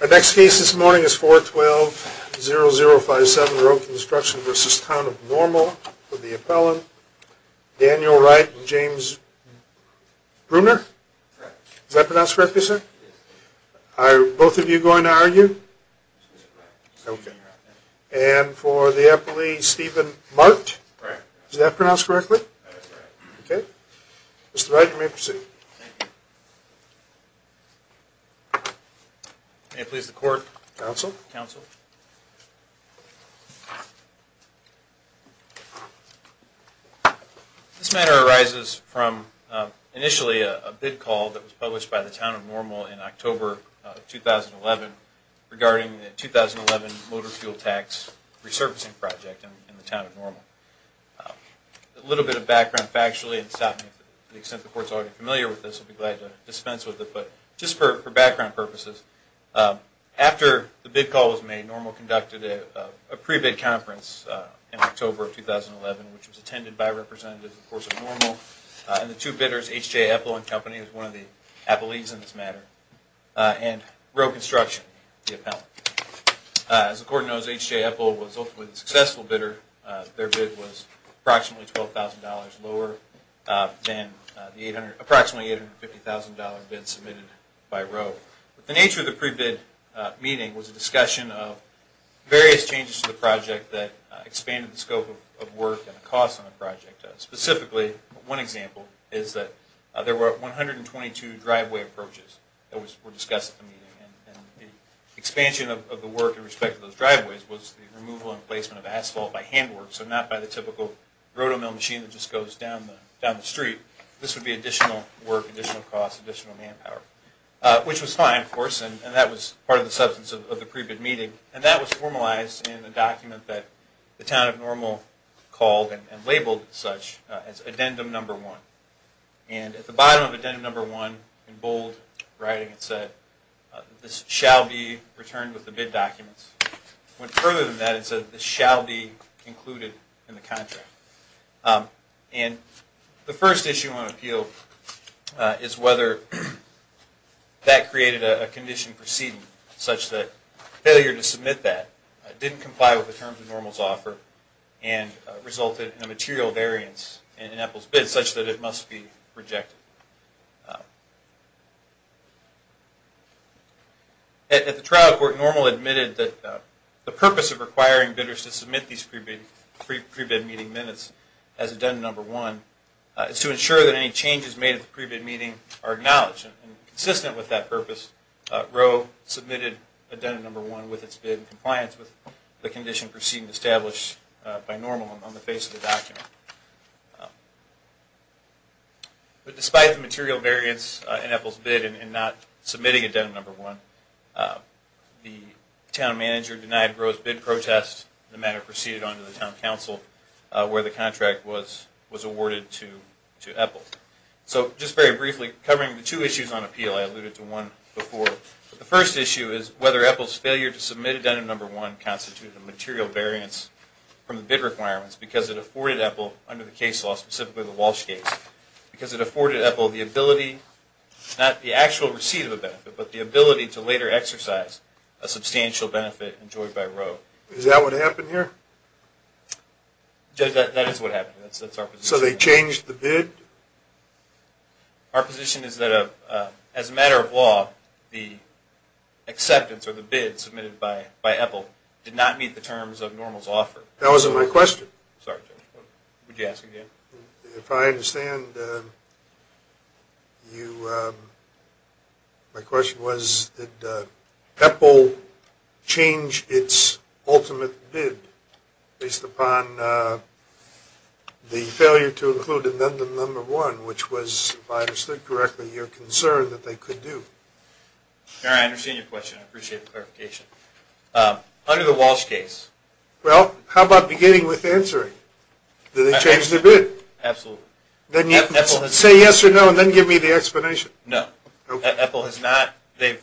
Our next case this morning is 412-0057 Rowe Construction v. Town of Normal for the appellant, Daniel Wright and James Bruner. Is that pronounced correctly, sir? Are both of you going to argue? And for the appellee, Stephen Mart? Is that pronounced correctly? That is correct. Mr. Wright, you may proceed. May it please the Court. Counsel. Counsel. This matter arises from initially a bid call that was published by the Town of Normal in October of 2011 regarding the 2011 motor fuel tax resurfacing project in the Town of Normal. A little bit of background factually, and to the extent the Court is already familiar with this, I would be glad to dispense with it, but just for background purposes, after the bid call was made, Normal conducted a pre-bid conference in October of 2011, which was attended by representatives of the Courts of Normal and the two bidders, H.J. Eppel and Company, who is one of the appellees in this matter, and Rowe Construction, the appellant. As the Court knows, H.J. Eppel was ultimately the successful bidder. Their bid was approximately $12,000 lower than the approximately $850,000 bid submitted by Rowe. The nature of the pre-bid meeting was a discussion of various changes to the project that expanded the scope of work and the costs on the project. Specifically, one example is that there were 122 driveway approaches that were discussed at the meeting, and the expansion of the work in respect to those driveways was the removal and placement of asphalt by handwork, so not by the typical rotomill machine that just goes down the street. This would be additional work, additional costs, additional manpower, which was fine, of course, and that was part of the substance of the pre-bid meeting. And that was formalized in the document that the Town of Normal called and labeled such as Addendum No. 1. And at the bottom of Addendum No. 1, in bold writing, it said, this shall be returned with the bid documents. It went further than that and said, this shall be included in the contract. And the first issue on appeal is whether that created a condition proceeding such that failure to submit that didn't comply with the terms of Normal's offer and resulted in a material variance in Apple's bid such that it must be rejected. At the trial court, Normal admitted that the purpose of requiring bidders to submit these pre-bid meeting minutes as Addendum No. 1 is to ensure that any changes made at the pre-bid meeting are acknowledged, and consistent with that purpose, Roe submitted Addendum No. 1 with its bid in compliance with the condition proceeding established by Normal on the face of the document. But despite the material variance in Apple's bid in not submitting Addendum No. 1, the Town Manager denied Roe's bid protest and the matter proceeded on to the Town Council where the contract was awarded to Apple. So just very briefly, covering the two issues on appeal, I alluded to one before. The first issue is whether Apple's failure to submit Addendum No. 1 constituted a material variance from the bid requirements because it afforded Apple, under the case law, specifically the Walsh case, because it afforded Apple the ability, not the actual receipt of a benefit, but the ability to later exercise a substantial benefit enjoyed by Roe. Is that what happened here? Judge, that is what happened here. So they changed the bid? Our position is that as a matter of law, the acceptance or the bid submitted by Apple did not meet the terms of Normal's offer. That wasn't my question. Sorry, Judge. Would you ask again? If I understand, my question was, did Apple change its ultimate bid based upon the failure to include Addendum No. 1, which was, if I understood correctly, your concern that they could do? I understand your question. I appreciate the clarification. Under the Walsh case? Well, how about beginning with answering? Absolutely. Did they change their bid? Absolutely. Say yes or no, and then give me the explanation. No. Apple has not. They've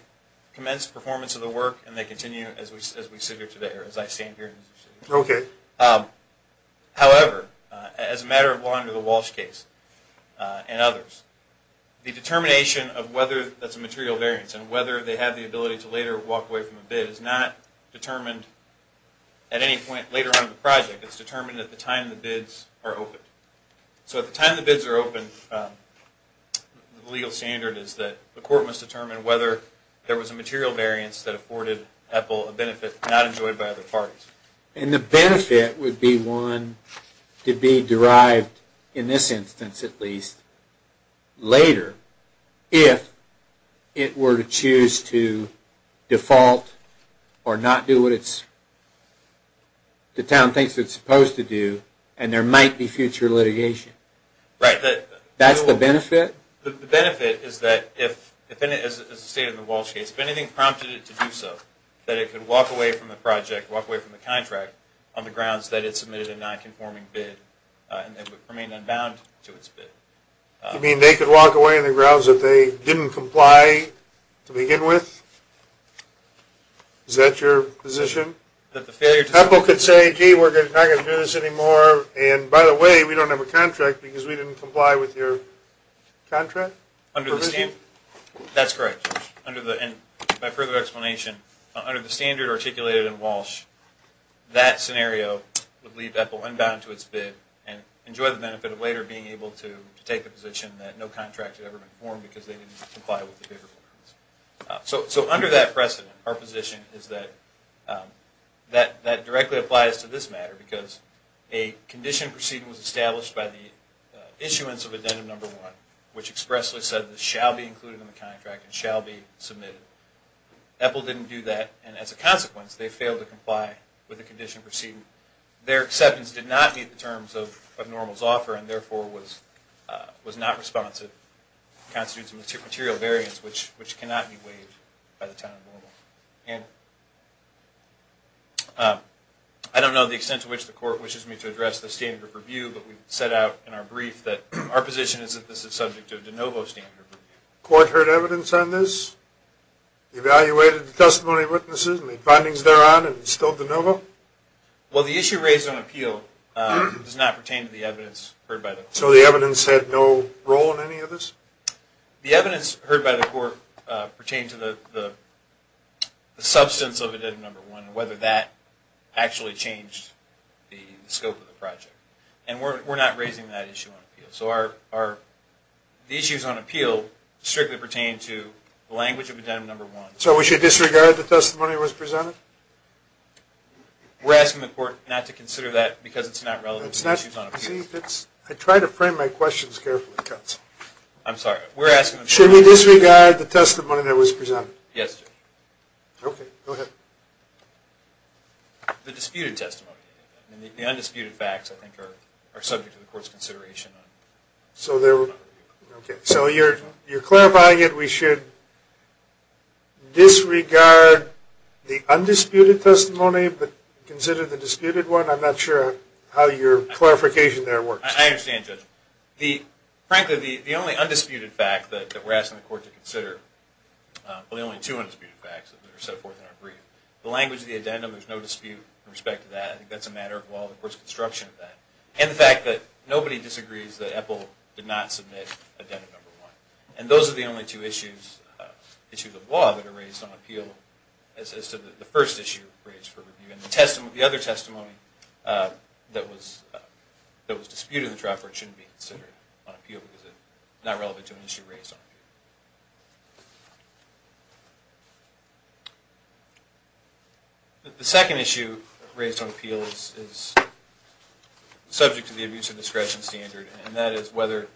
commenced performance of the work, and they continue as we sit here today, or as I stand here. Okay. However, as a matter of law under the Walsh case and others, the determination of whether that's a material variance and whether they have the ability to later walk away from a bid is not determined at any point later on in the project. It's determined at the time the bids are open. So at the time the bids are open, the legal standard is that the court must determine whether there was a material variance that afforded Apple a benefit not enjoyed by other parties. And the benefit would be one to be derived, in this instance at least, later if it were to choose to default or not do what the town thinks it's supposed to do, and there might be future litigation. Right. That's the benefit? The benefit is that if, as stated in the Walsh case, if anything prompted it to do so, that it could walk away from the project, walk away from the contract on the grounds that it submitted a nonconforming bid, and it would remain unbound to its bid. You mean they could walk away on the grounds that they didn't comply to begin with? Is that your position? That the failure to... Apple could say, gee, we're not going to do this anymore, and by the way, we don't have a contract because we didn't comply with your contract? Under the standard... Provision? That's correct. By further explanation, under the standard articulated in Walsh, that scenario would leave Apple unbound to its bid, and enjoy the benefit of later being able to take the position that no contract had ever been formed because they didn't comply with the bid requirements. So under that precedent, our position is that that directly applies to this matter, because a condition proceeding was established by the issuance of addendum number one, which expressly said this shall be included in the contract and shall be submitted. Apple didn't do that, and as a consequence, they failed to comply with the condition proceeding. Their acceptance did not meet the terms of NORML's offer, and therefore was not responsive. It constitutes a material variance, which cannot be waived by the town of NORML. And I don't know the extent to which the court wishes me to address the standard of review, but we set out in our brief that our position is that this is subject to a de novo standard of review. The court heard evidence on this, evaluated the testimony of witnesses and the findings thereon, and it's still de novo? Well, the issue raised on appeal does not pertain to the evidence heard by the court. So the evidence had no role in any of this? The evidence heard by the court pertained to the substance of addendum number one and whether that actually changed the scope of the project. And we're not raising that issue on appeal. So the issues on appeal strictly pertain to the language of addendum number one. So we should disregard the testimony that was presented? We're asking the court not to consider that because it's not relevant to the issues on appeal. I try to frame my questions carefully. I'm sorry. Should we disregard the testimony that was presented? Yes. Okay. Go ahead. The disputed testimony. The undisputed facts, I think, are subject to the court's consideration. So you're clarifying it. We should disregard the undisputed testimony but consider the disputed one? I'm not sure how your clarification there works. I understand, Judge. Frankly, the only undisputed fact that we're asking the court to consider, well, there are only two undisputed facts that are set forth in our brief. The language of the addendum, there's no dispute in respect to that. I think that's a matter of the court's construction of that. And the fact that nobody disagrees that EPIL did not submit addendum number one. And those are the only two issues of law that are raised on appeal as to the first issue raised for review. And the other testimony that was disputed in the trial court shouldn't be considered on appeal because it's not relevant to an issue raised on appeal. The second issue raised on appeal is subject to the abuse of discretion standard, and that is whether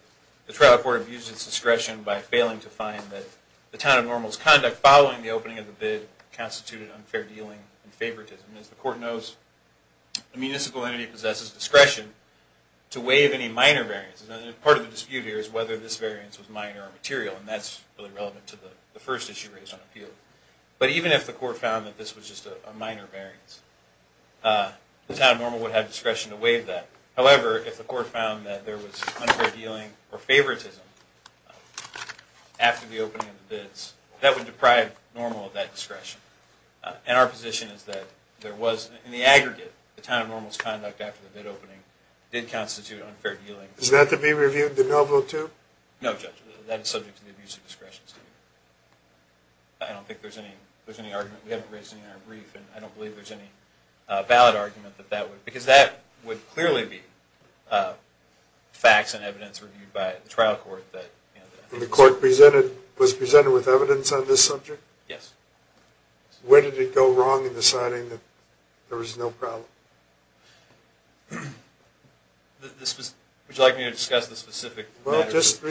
the trial court abused its discretion by failing to find that the town of Normal's conduct following the opening of the bid constituted unfair dealing and favoritism. As the court knows, the municipal entity possesses discretion to waive any minor variances. Part of the dispute here is whether this variance was minor or material, and that's really relevant to the first issue raised on appeal. But even if the court found that this was just a minor variance, the town of Normal would have discretion to waive that. However, if the court found that there was unfair dealing or favoritism after the opening of the bids, that would deprive Normal of that discretion. And our position is that there was, in the aggregate, the town of Normal's conduct after the bid opening did constitute unfair dealing. Is that to be reviewed de novo too? No, Judge, that is subject to the abuse of discretion standard. I don't think there's any argument. We haven't raised any in our brief, and I don't believe there's any valid argument that that would, because that would clearly be facts and evidence reviewed by the trial court. And the court was presented with evidence on this subject? Yes. When did it go wrong in deciding that there was no problem? Would you like me to discuss the specific matter? Well, just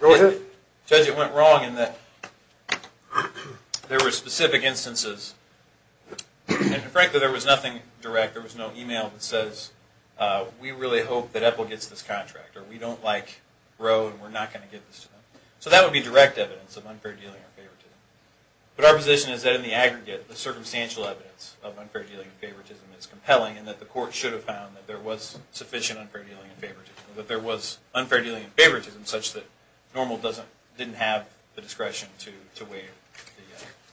go ahead. Judge, it went wrong in that there were specific instances, and frankly there was nothing direct, there was no email that says, we really hope that Epple gets this contract, or we don't like Roe and we're not going to give this to them. So that would be direct evidence of unfair dealing or favoritism. But our position is that in the aggregate, the circumstantial evidence of unfair dealing and favoritism is compelling, and that the court should have found that there was sufficient unfair dealing and favoritism, that there was unfair dealing and favoritism such that Normal didn't have the discretion to waive.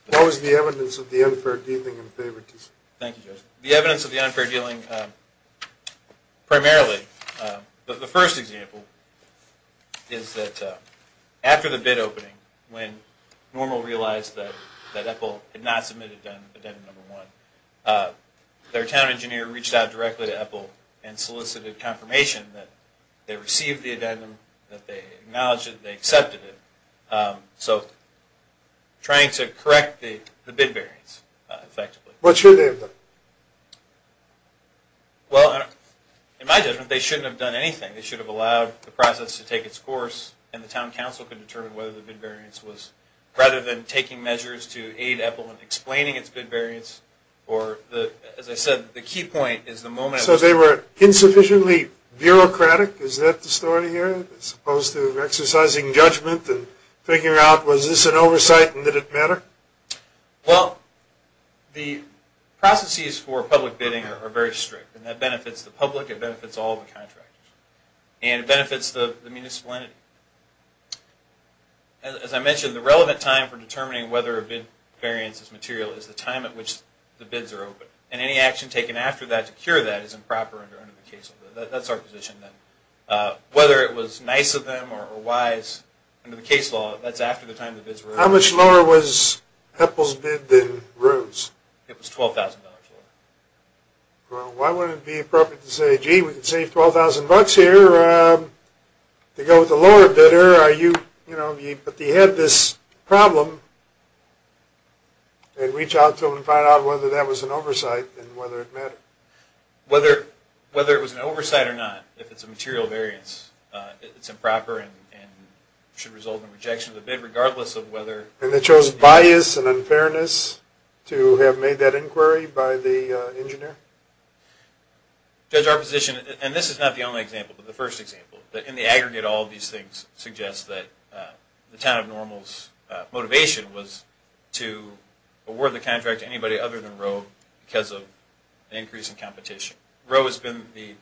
What was the evidence of the unfair dealing and favoritism? Thank you, Judge. The evidence of the unfair dealing, primarily, the first example is that after the bid opening, when Normal realized that Epple had not submitted addendum number one, their town engineer reached out directly to Epple and solicited confirmation that they received the addendum, that they acknowledged it, they accepted it. So trying to correct the bid variance, effectively. What should they have done? Well, in my judgment, they shouldn't have done anything. They should have allowed the process to take its course and the town council could determine whether the bid variance was, rather than taking measures to aid Epple in explaining its bid variance, or, as I said, the key point is the moment... So they were insufficiently bureaucratic, is that the story here, as opposed to exercising judgment and figuring out, was this an oversight and did it matter? Well, the processes for public bidding are very strict, and that benefits the public, it benefits all the contractors, and it benefits the municipality. As I mentioned, the relevant time for determining whether a bid variance is material is the time at which the bids are open, and any action taken after that to cure that is improper under the case law. That's our position then. Whether it was nice of them or wise under the case law, that's after the time the bids were open. How much lower was Epple's bid than Roone's? It was $12,000 lower. Well, why wouldn't it be appropriate to say, gee, we can save $12,000 here to go with the lower bidder, but they had this problem, and reach out to them and find out whether that was an oversight and whether it mattered. Whether it was an oversight or not, if it's a material variance, it's improper and should result in rejection of the bid, regardless of whether... And they chose bias and unfairness to have made that inquiry by the engineer? Judge, our position, and this is not the only example, but the first example, that in the aggregate all of these things suggest that the Town of Normals' motivation was to award the contract to anybody other than Roe because of the increase in competition. Roe has been the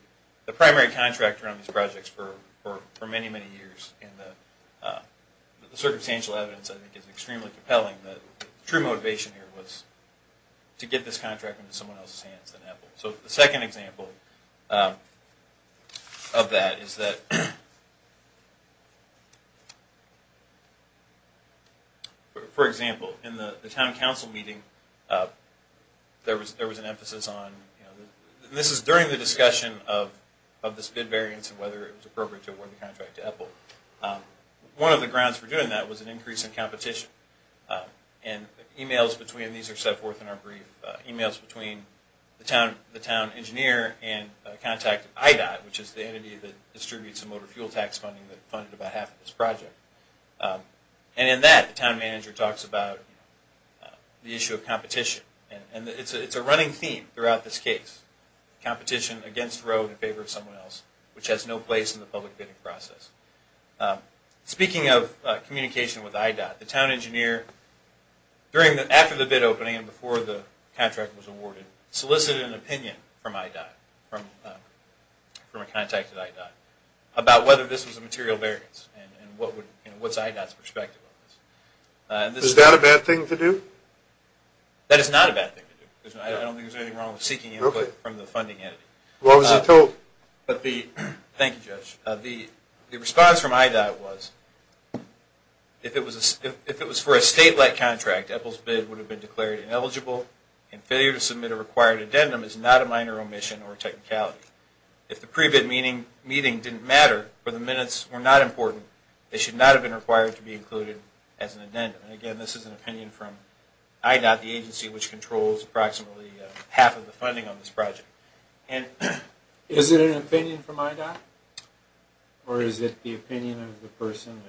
primary contractor on these projects for many, many years and the circumstantial evidence, I think, is extremely compelling. The true motivation here was to get this contract into someone else's hands than Epple. So the second example of that is that, for example, in the town council meeting there was an emphasis on, and this is during the discussion of this bid variance and whether it was appropriate to award the contract to Epple. One of the grounds for doing that was an increase in competition. And emails between, and these are set forth in our brief, emails between the town engineer and a contact at IDOT, which is the entity that distributes the motor fuel tax funding that funded about half of this project. And in that, the town manager talks about the issue of competition. And it's a running theme throughout this case. Competition against Roe in favor of someone else, which has no place in the public bidding process. Speaking of communication with IDOT, the town engineer, after the bid opening and before the contract was awarded, solicited an opinion from IDOT, from a contact at IDOT, about whether this was a material variance and what's IDOT's perspective on this. Is that a bad thing to do? That is not a bad thing to do. I don't think there's anything wrong with seeking input from the funding entity. What was it told? Thank you, Judge. The response from IDOT was, if it was for a state-like contract, Epple's bid would have been declared ineligible, and failure to submit a required addendum is not a minor omission or technicality. If the pre-bid meeting didn't matter, or the minutes were not important, it should not have been required to be included as an addendum. Again, this is an opinion from IDOT, the agency which controls approximately half of the funding on this project. Is it an opinion from IDOT? Or is it the opinion of the person?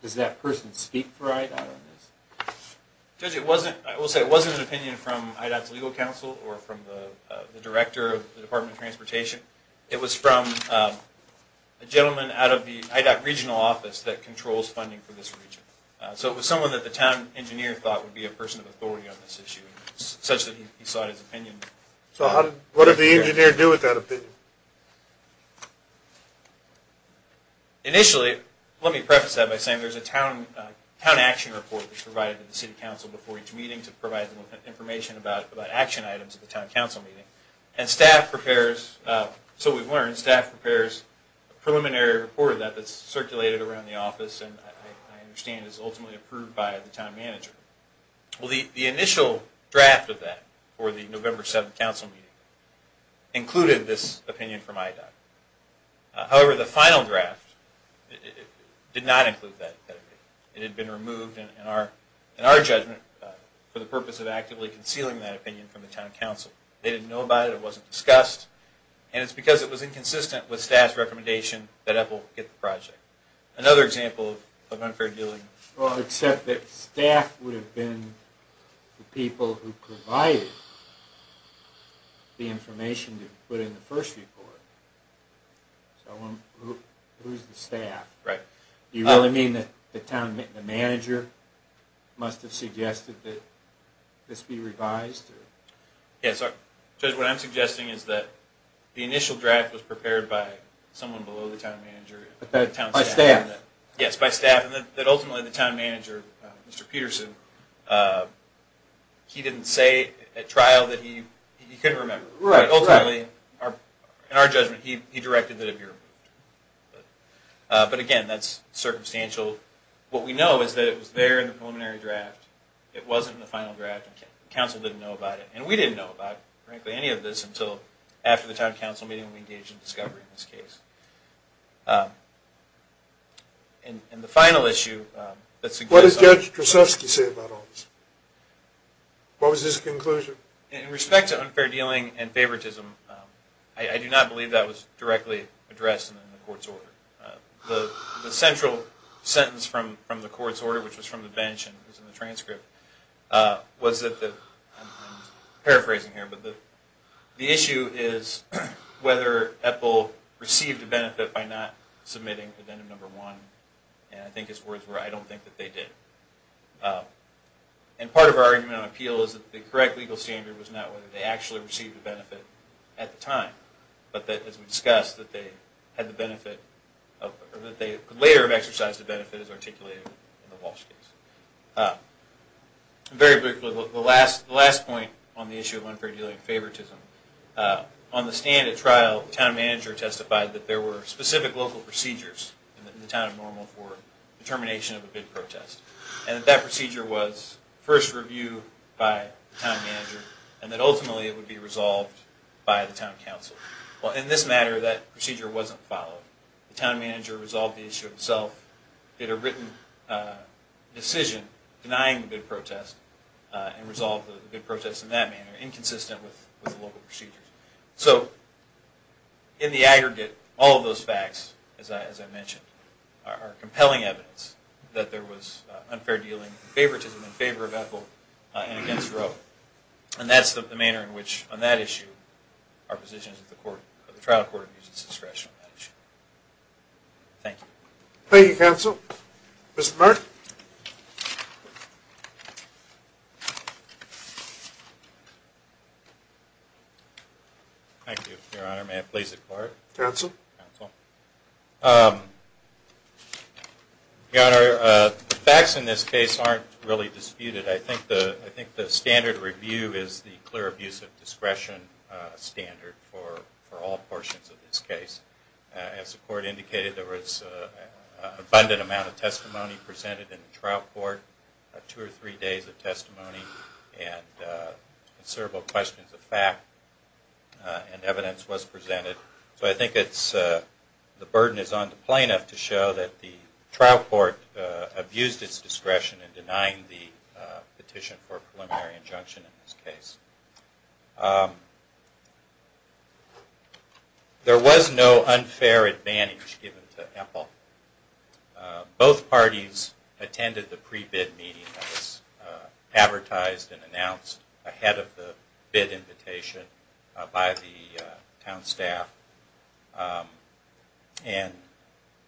Does that person speak for IDOT on this? Judge, I will say it wasn't an opinion from IDOT's legal counsel or from the director of the Department of Transportation. It was from a gentleman out of the IDOT regional office that controls funding for this region. So it was someone that the town engineer thought would be a person of authority on this issue, such that he sought his opinion. So what did the engineer do with that opinion? Initially, let me preface that by saying there's a town action report that's provided to the city council before each meeting to provide information about action items at the town council meeting. And staff prepares, so we've learned, staff prepares a preliminary report that's circulated around the office and I understand is ultimately approved by the town manager. Well, the initial draft of that for the November 7th council meeting included this opinion from IDOT. However, the final draft did not include that opinion. It had been removed in our judgment for the purpose of actively concealing that opinion from the town council. They didn't know about it, it wasn't discussed, and it's because it was inconsistent with staff's recommendation that EPPL get the project. Another example of unfair dealing. Well, except that staff would have been the people who provided the information to put in the first report. So who's the staff? Do you really mean that the town manager must have suggested that this be revised? Yes, Judge, what I'm suggesting is that the initial draft was prepared by someone below the town manager. By staff? Yes, by staff, and that ultimately the town manager, Mr. Peterson, he didn't say at trial that he couldn't remember. Ultimately, in our judgment, he directed that it be removed. But again, that's circumstantial. What we know is that it was there in the preliminary draft. It wasn't in the final draft. The council didn't know about it. And we didn't know about, frankly, any of this until after the town council meeting we engaged in discovery in this case. And the final issue that's... What did Judge Krasovsky say about all this? What was his conclusion? In respect to unfair dealing and favoritism, I do not believe that was directly addressed in the court's order. The central sentence from the court's order, which was from the bench and was in the transcript, was that the... I'm paraphrasing here... The issue is whether EPPL received a benefit by not submitting Avenum No. 1. And I think his words were, I don't think that they did. And part of our argument on appeal is that the correct legal standard was not whether they actually received a benefit at the time, but that, as we discussed, that they had the benefit... Or that they could later have exercised the benefit as articulated in the Walsh case. Very briefly, the last point on the issue of unfair dealing and favoritism. On the stand at trial, the town manager testified that there were specific local procedures in the town of Normal for the termination of a bid protest. And that that procedure was first reviewed by the town manager, and that ultimately it would be resolved by the town council. Well, in this matter, that procedure wasn't followed. The town manager resolved the issue himself, did a written decision denying the bid protest, and resolved the bid protest in that manner, inconsistent with the local procedures. So, in the aggregate, all of those facts, as I mentioned, are compelling evidence that there was unfair dealing and favoritism in favor of EPPL and against Roe. And that's the manner in which, on that issue, our position is that the trial court uses discretion on that issue. Thank you. Thank you, counsel. Mr. Burke? Thank you, Your Honor. May it please the Court? Counsel? Counsel. Your Honor, the facts in this case aren't really disputed. I think the standard review is the clear abuse of discretion standard for all portions of this case. As the Court indicated, there was an abundant amount of testimony presented in the trial court, two or three days of testimony, and considerable questions of fact and evidence was presented. So I think the burden is on the plaintiff to show that the trial court abused its discretion in denying the petition for preliminary injunction in this case. There was no unfair advantage given to EPPL. Both parties attended the pre-bid meeting that was advertised and announced ahead of the bid invitation by the town staff. And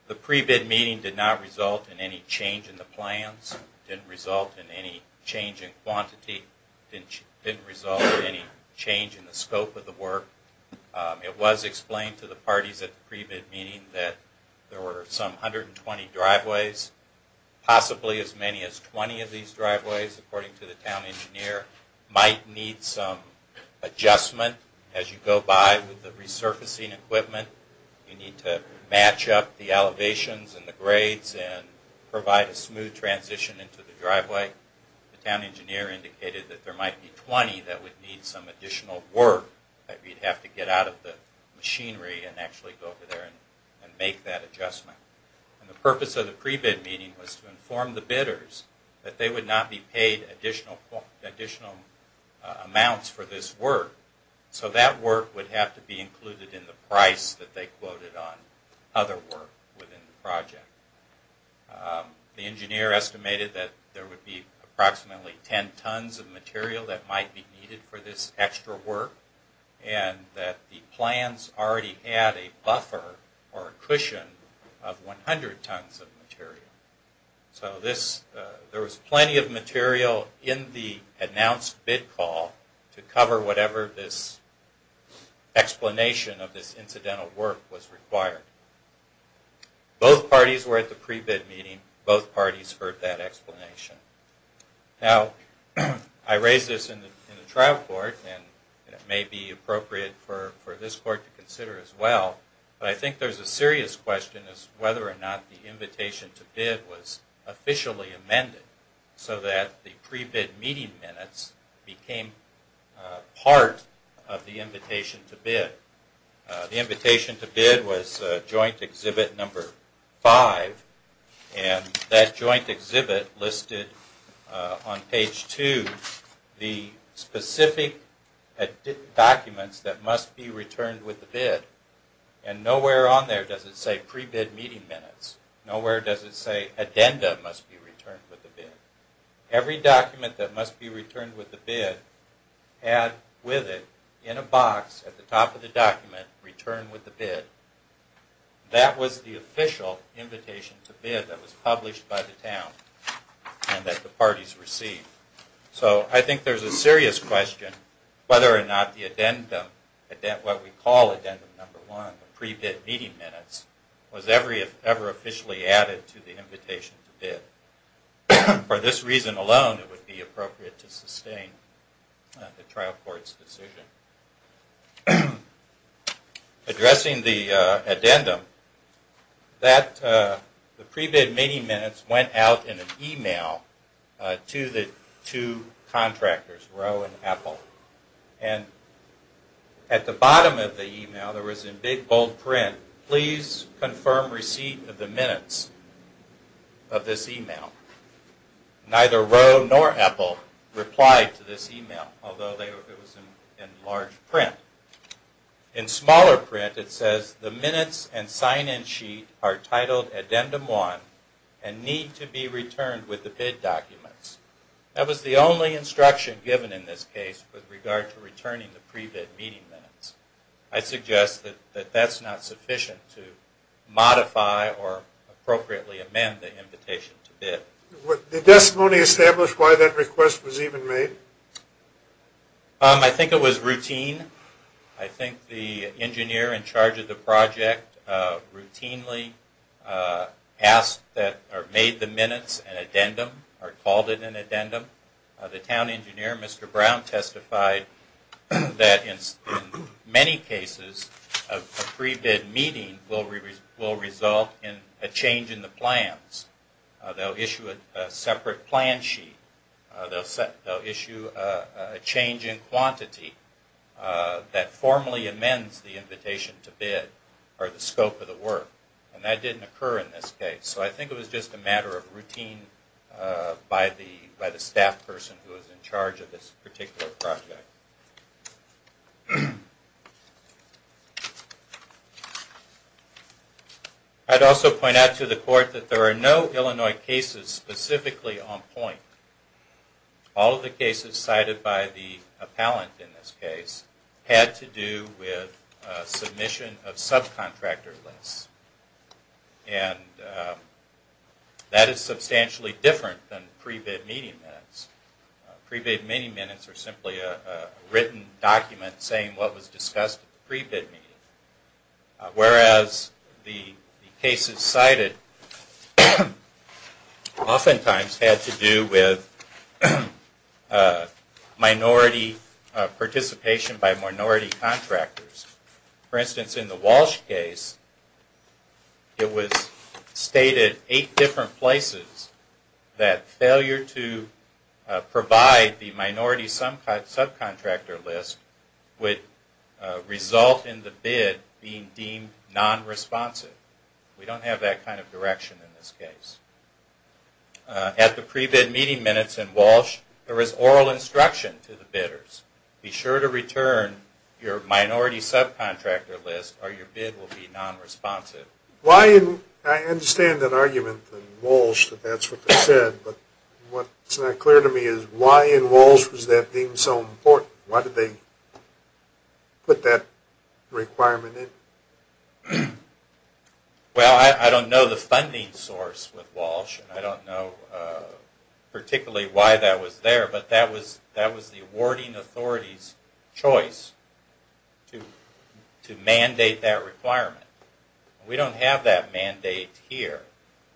the pre-bid meeting did not result in any change in the plans, didn't result in any change in quantity, didn't result in any change in the scope of the work. It was explained to the parties at the pre-bid meeting that there were some 120 driveways, possibly as many as 20 of these driveways, according to the town engineer, might need some adjustment as you go by with the resurfacing equipment. You need to match up the elevations and the grades and provide a smooth transition into the driveway. The town engineer indicated that there might be 20 that would need some additional work, that we'd have to get out of the machinery and actually go over there and make that adjustment. The purpose of the pre-bid meeting was to inform the bidders that they would not be paid additional amounts for this work, so that work would have to be included in the price that they quoted on other work within the project. The engineer estimated that there would be approximately 10 tons of material that might be needed for this extra work, and that the plans already had a buffer or a cushion of 100 tons of material. So there was plenty of material in the announced bid call to cover whatever this explanation of this incidental work was required. Both parties were at the pre-bid meeting. Both parties heard that explanation. Now, I raised this in the trial court, and it may be appropriate for this court to consider as well, but I think there's a serious question as to whether or not the invitation to bid was officially amended, so that the pre-bid meeting minutes became part of the invitation to bid. The invitation to bid was joint exhibit number 5, and that joint exhibit listed on page 2, the specific documents that must be returned with the bid. And nowhere on there does it say pre-bid meeting minutes. Nowhere does it say addenda must be returned with the bid. Every document that must be returned with the bid, add with it in a box at the top of the document, return with the bid. That was the official invitation to bid that was published by the town, and that the parties received. So I think there's a serious question whether or not the addendum, what we call addendum number 1, pre-bid meeting minutes, was ever officially added to the invitation to bid. For this reason alone, it would be appropriate to sustain the trial court's decision. Addressing the addendum, the pre-bid meeting minutes went out in an email to the two contractors, Roe and Apple. And at the bottom of the email, there was in big bold print, please confirm receipt of the minutes of this email. Neither Roe nor Apple replied to this email, although it was in large print. In smaller print, it says the minutes and sign-in sheet are titled addendum 1 and need to be returned with the bid documents. That was the only instruction given in this case with regard to returning the pre-bid meeting minutes. I suggest that that's not sufficient to modify or appropriately amend the invitation to bid. Did the testimony establish why that request was even made? I think it was routine. I think the engineer in charge of the project routinely asked, or made the minutes an addendum, or called it an addendum. The town engineer, Mr. Brown, testified that in many cases, a pre-bid meeting will result in a change in the plans. They'll issue a separate plan sheet. They'll issue a change in quantity that formally amends the invitation to bid, or the scope of the work. And that didn't occur in this case. So I think it was just a matter of routine by the staff person who was in charge of this particular project. I'd also point out to the court that there are no Illinois cases specifically on point. All of the cases cited by the appellant in this case had to do with submission of subcontractor lists. That is substantially different than pre-bid meeting minutes. Pre-bid meeting minutes are simply a written document saying what was discussed at the pre-bid meeting. Whereas the cases cited oftentimes had to do with minority participation by minority contractors. For instance, in the Walsh case, it was stated eight different places that failure to provide the minority subcontractor list would result in the bid being deemed non-responsive. We don't have that kind of direction in this case. At the pre-bid meeting minutes in Walsh, there is oral instruction to the bidders. Be sure to return your minority subcontractor list or your bid will be non-responsive. I understand that argument in Walsh that that's what they said. But what's not clear to me is why in Walsh was that deemed so important? Why did they put that requirement in? Well, I don't know the funding source with Walsh. I don't know particularly why that was there. But that was the awarding authority's choice to mandate that requirement. We don't have that mandate here.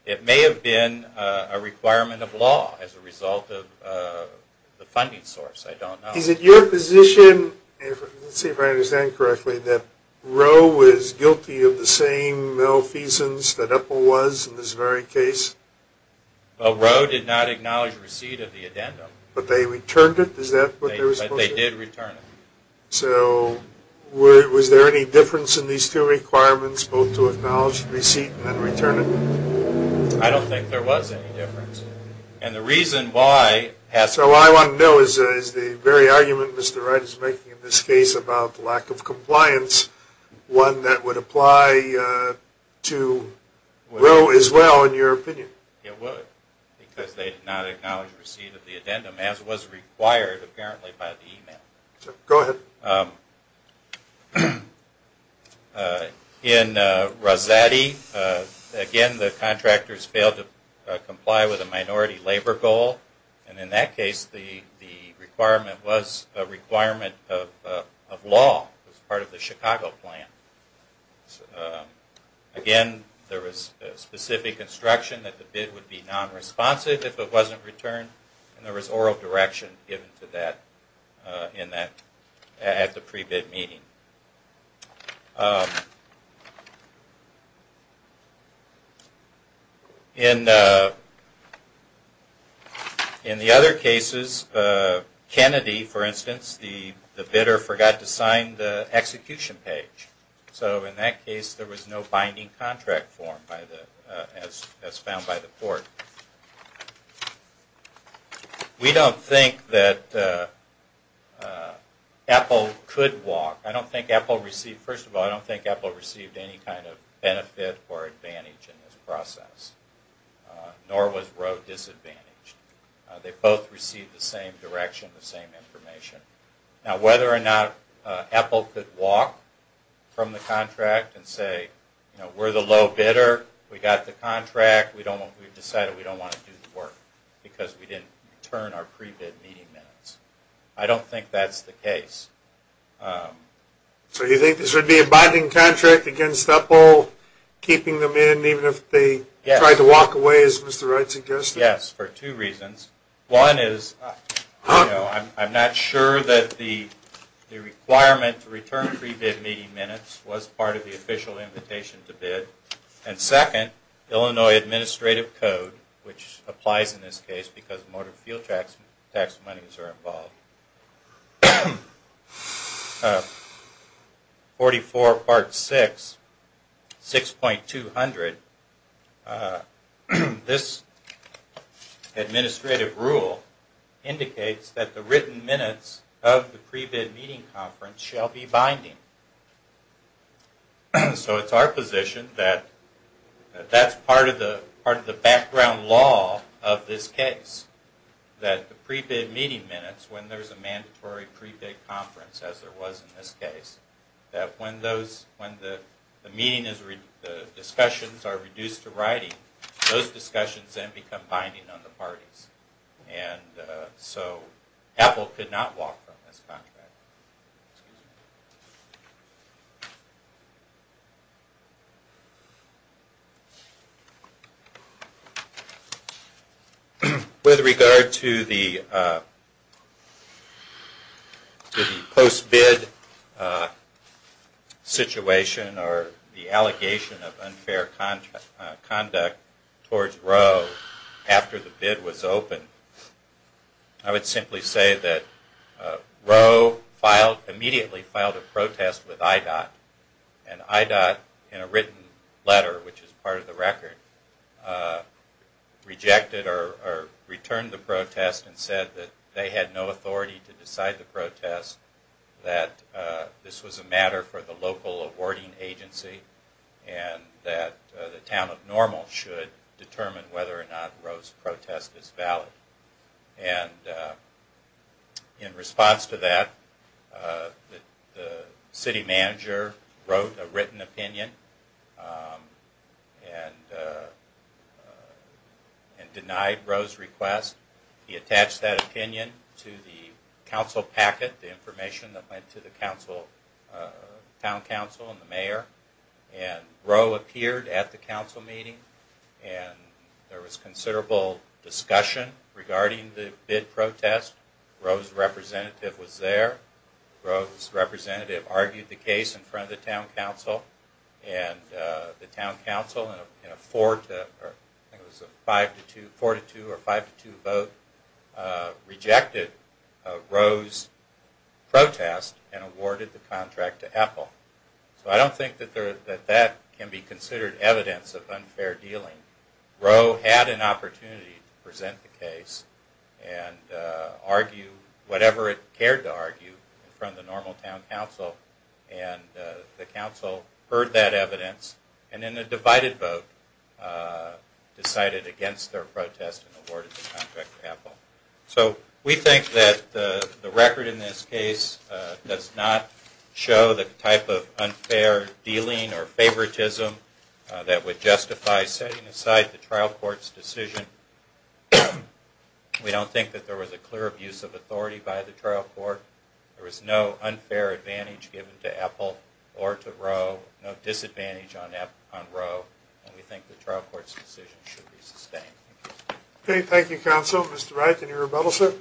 It may have been a requirement of law as a result of the funding source. Is it your position that Roe was guilty of the same malfeasance that Epple was in this very case? Roe did not acknowledge receipt of the addendum. But they returned it? Was there any difference in these two requirements, both to acknowledge receipt and return it? I don't think there was any difference. So what I want to know is the very argument Mr. Wright is making in this case about lack of compliance, one that would apply to Roe as well in your opinion? It would because they did not acknowledge receipt of the addendum as was required apparently by the email. Go ahead. In Rosetti, again the contractors failed to comply with a minority labor goal. And in that case the requirement was a requirement of law as part of the Chicago plan. Again, there was specific instruction that the bid would be non-responsive if it wasn't returned. And there was oral direction given to that at the pre-bid meeting. In the other cases, Kennedy for instance, the bidder forgot to sign the execution page. So in that case there was no binding contract form as found by the court. We don't think that Apple could walk. First of all, I don't think Apple received any kind of benefit or advantage in this process. Nor was Roe disadvantaged. They both received the same direction, the same information. Now whether or not Apple could walk from the contract and say we're the low bidder, we got the contract, we've decided we don't want to do the work because we didn't return our pre-bid meeting minutes. I don't think that's the case. So you think this would be a binding contract against Apple keeping them in even if they tried to walk away as Mr. Wright suggested? Yes, for two reasons. One is I'm not sure that the requirement to return pre-bid meeting minutes was part of the official invitation to bid. And second, Illinois Administrative Code, which applies in this case because motor fuel tax monies are involved. 44 Part 6, 6.200. This administrative rule indicates that the written minutes of the pre-bid meeting conference shall be binding. So it's our position that that's part of the background law of this case. That the pre-bid meeting minutes, when there's a mandatory pre-bid conference as there was in this case, that when the discussions are reduced to writing, those discussions then become binding on the parties. And so Apple could not walk from this contract. With regard to the post-bid situation or the allegation of unfair conduct towards Roe after the bid was open, I would simply say that Roe immediately filed a protest with IDOT. And IDOT in a written letter, which is part of the record, rejected or returned the protest and said that they had no authority to decide the protest, that this was a matter for the local awarding agency, and that the town of Normal should determine whether or not Roe's protest is valid. And in response to that, the city manager wrote a written opinion and denied Roe's request. He attached that opinion to the council packet, the information that went to the town council and the mayor. And Roe appeared at the council meeting and there was considerable discussion regarding the bid protest. Roe's representative was there. Roe's representative argued the case in front of the town council. And the town council, in a 4-2 vote, rejected Roe's protest and awarded the contract to Apple. So I don't think that that can be considered evidence of unfair dealing. Roe had an opportunity to present the case and argue whatever it cared to argue in front of the Normal town council and the council heard that evidence and in a divided vote decided against their protest and awarded the contract to Apple. So we think that the record in this case does not show the type of unfair dealing or favoritism that would justify setting aside the trial court's decision. We don't think that there was a clear abuse of authority by the trial court. There was no unfair advantage given to Apple or to Roe. No disadvantage on Roe. And we think the trial court's decision should be sustained. Thank you, counsel. Mr. Wright, any rebuttals, sir?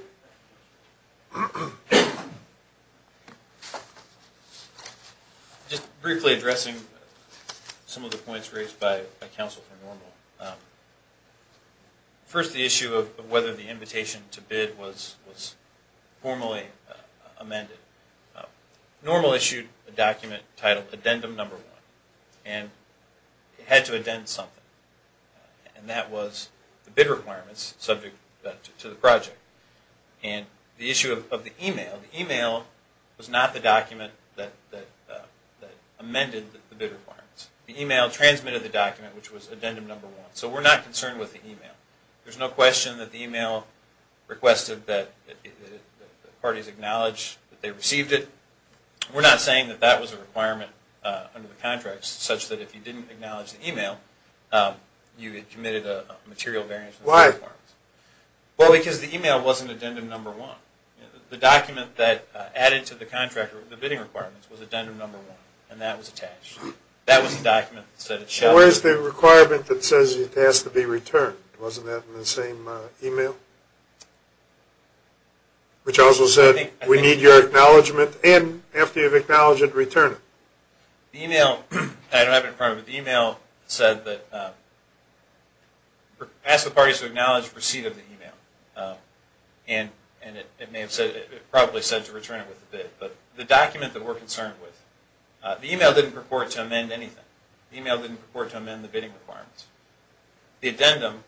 Just briefly addressing some of the points raised by counsel for Normal. First, the issue of whether the invitation to bid was formally amended. Normal issued a document titled Addendum No. 1 and it had to addend something. And that was the bid requirements subject to the project. And the issue of the email, the email was not the document that amended the bid requirements. The email transmitted the document which was Addendum No. 1. So we're not concerned with the email. There's no question that the email requested that the parties acknowledge that they received it. We're not saying that that was a requirement under the contract such that if you didn't acknowledge the email, you had committed a material variance. The document that added to the contract the bidding requirements was Addendum No. 1 and that was attached. Where's the requirement that says it has to be returned? Wasn't that in the same email? Which also said we need your acknowledgement and after you've acknowledged it, return it. The email said ask the parties to acknowledge receipt of the email. And it probably said to return it with the bid. But the document that we're concerned with, the email didn't purport to amend anything. The email didn't purport to amend the bidding requirements. The addendum,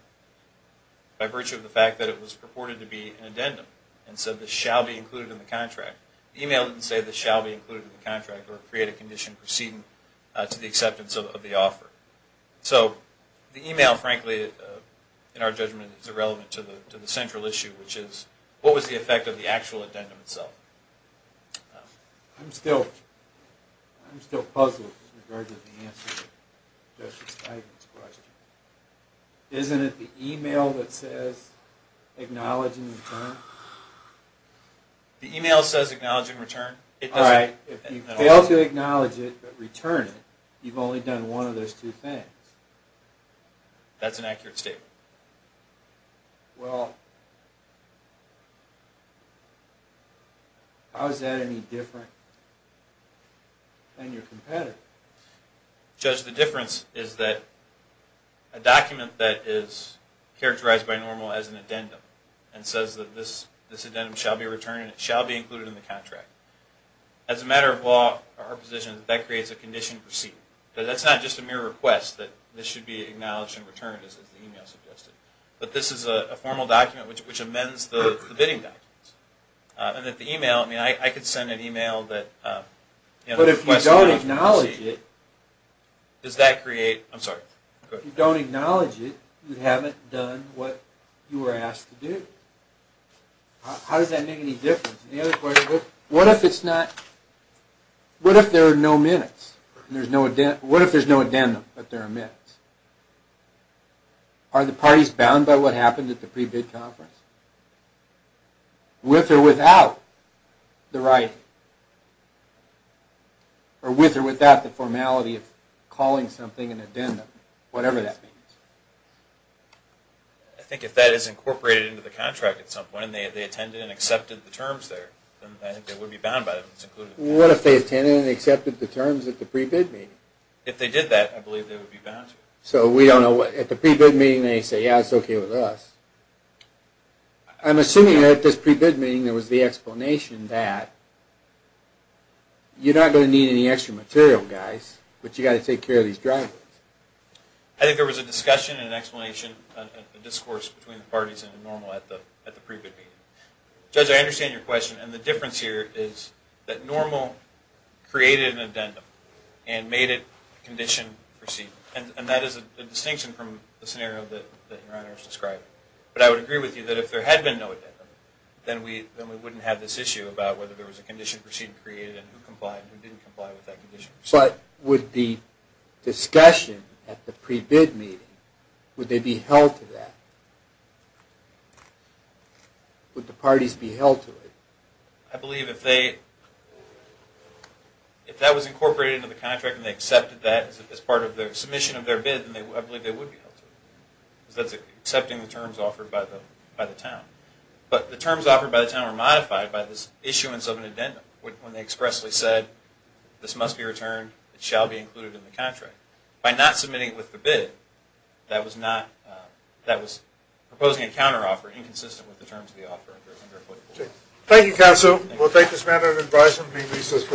by virtue of the fact that it was purported to be an addendum and said this shall be included in the contract, the email didn't say this shall be included in the contract or create a condition proceeding to the acceptance of the offer. So the email frankly in our judgment is irrelevant to the central issue, which is what was the effect of the actual addendum itself? I'm still puzzled with regards to the answer to Justice Feigin's question. Isn't it the email that says acknowledge and return? The email says acknowledge and return. If you fail to acknowledge it but return it, you've only done one of those two things. That's an accurate statement. Well, how is that any different than your competitor? Judge, the difference is that a document that is characterized by normal as an addendum and says that this addendum shall be returned and it shall be included in the contract. As a matter of law, our position is that that creates a condition proceeding. That's not just a mere request that this should be acknowledged and returned as the email suggested. But this is a formal document which amends the bidding documents. If you don't acknowledge it, you haven't done what you were asked to do. How does that make any difference? What if there are no minutes? What if there's no addendum but there are minutes? Are the parties bound by what happened at the pre-bid conference? With or without the formality of calling something an addendum? I think if that is incorporated into the contract at some point, and they attended and accepted the terms there, then they would be bound by it. What if they attended and accepted the terms at the pre-bid meeting? At the pre-bid meeting they say, yeah, it's okay with us. I'm assuming at this pre-bid meeting there was the explanation that you're not going to need any extra material, guys, but you've got to take care of these drivers. I think there was a discussion and explanation and discourse between the parties at the pre-bid meeting. Judge, I understand your question. The difference here is that NORML created an addendum and made it condition-proceeded. That is a distinction from the scenario that your honors described. But I would agree with you that if there had been no addendum, then we wouldn't have this issue about whether there was a condition-proceeded created and who complied and who didn't comply with that condition. But with the discussion at the pre-bid meeting, would they be held to that? Would the parties be held to it? I believe if that was incorporated into the contract and they accepted that as part of the submission of their bid, then I believe they would be held to it. But the terms offered by the town were modified by this issuance of an addendum. When they expressly said, this must be returned, it shall be included in the contract. By not submitting it with the bid, that was proposing a counteroffer inconsistent with the terms of the offer. Thank you, counsel. We'll take this matter into advisement and be in recess for a few moments.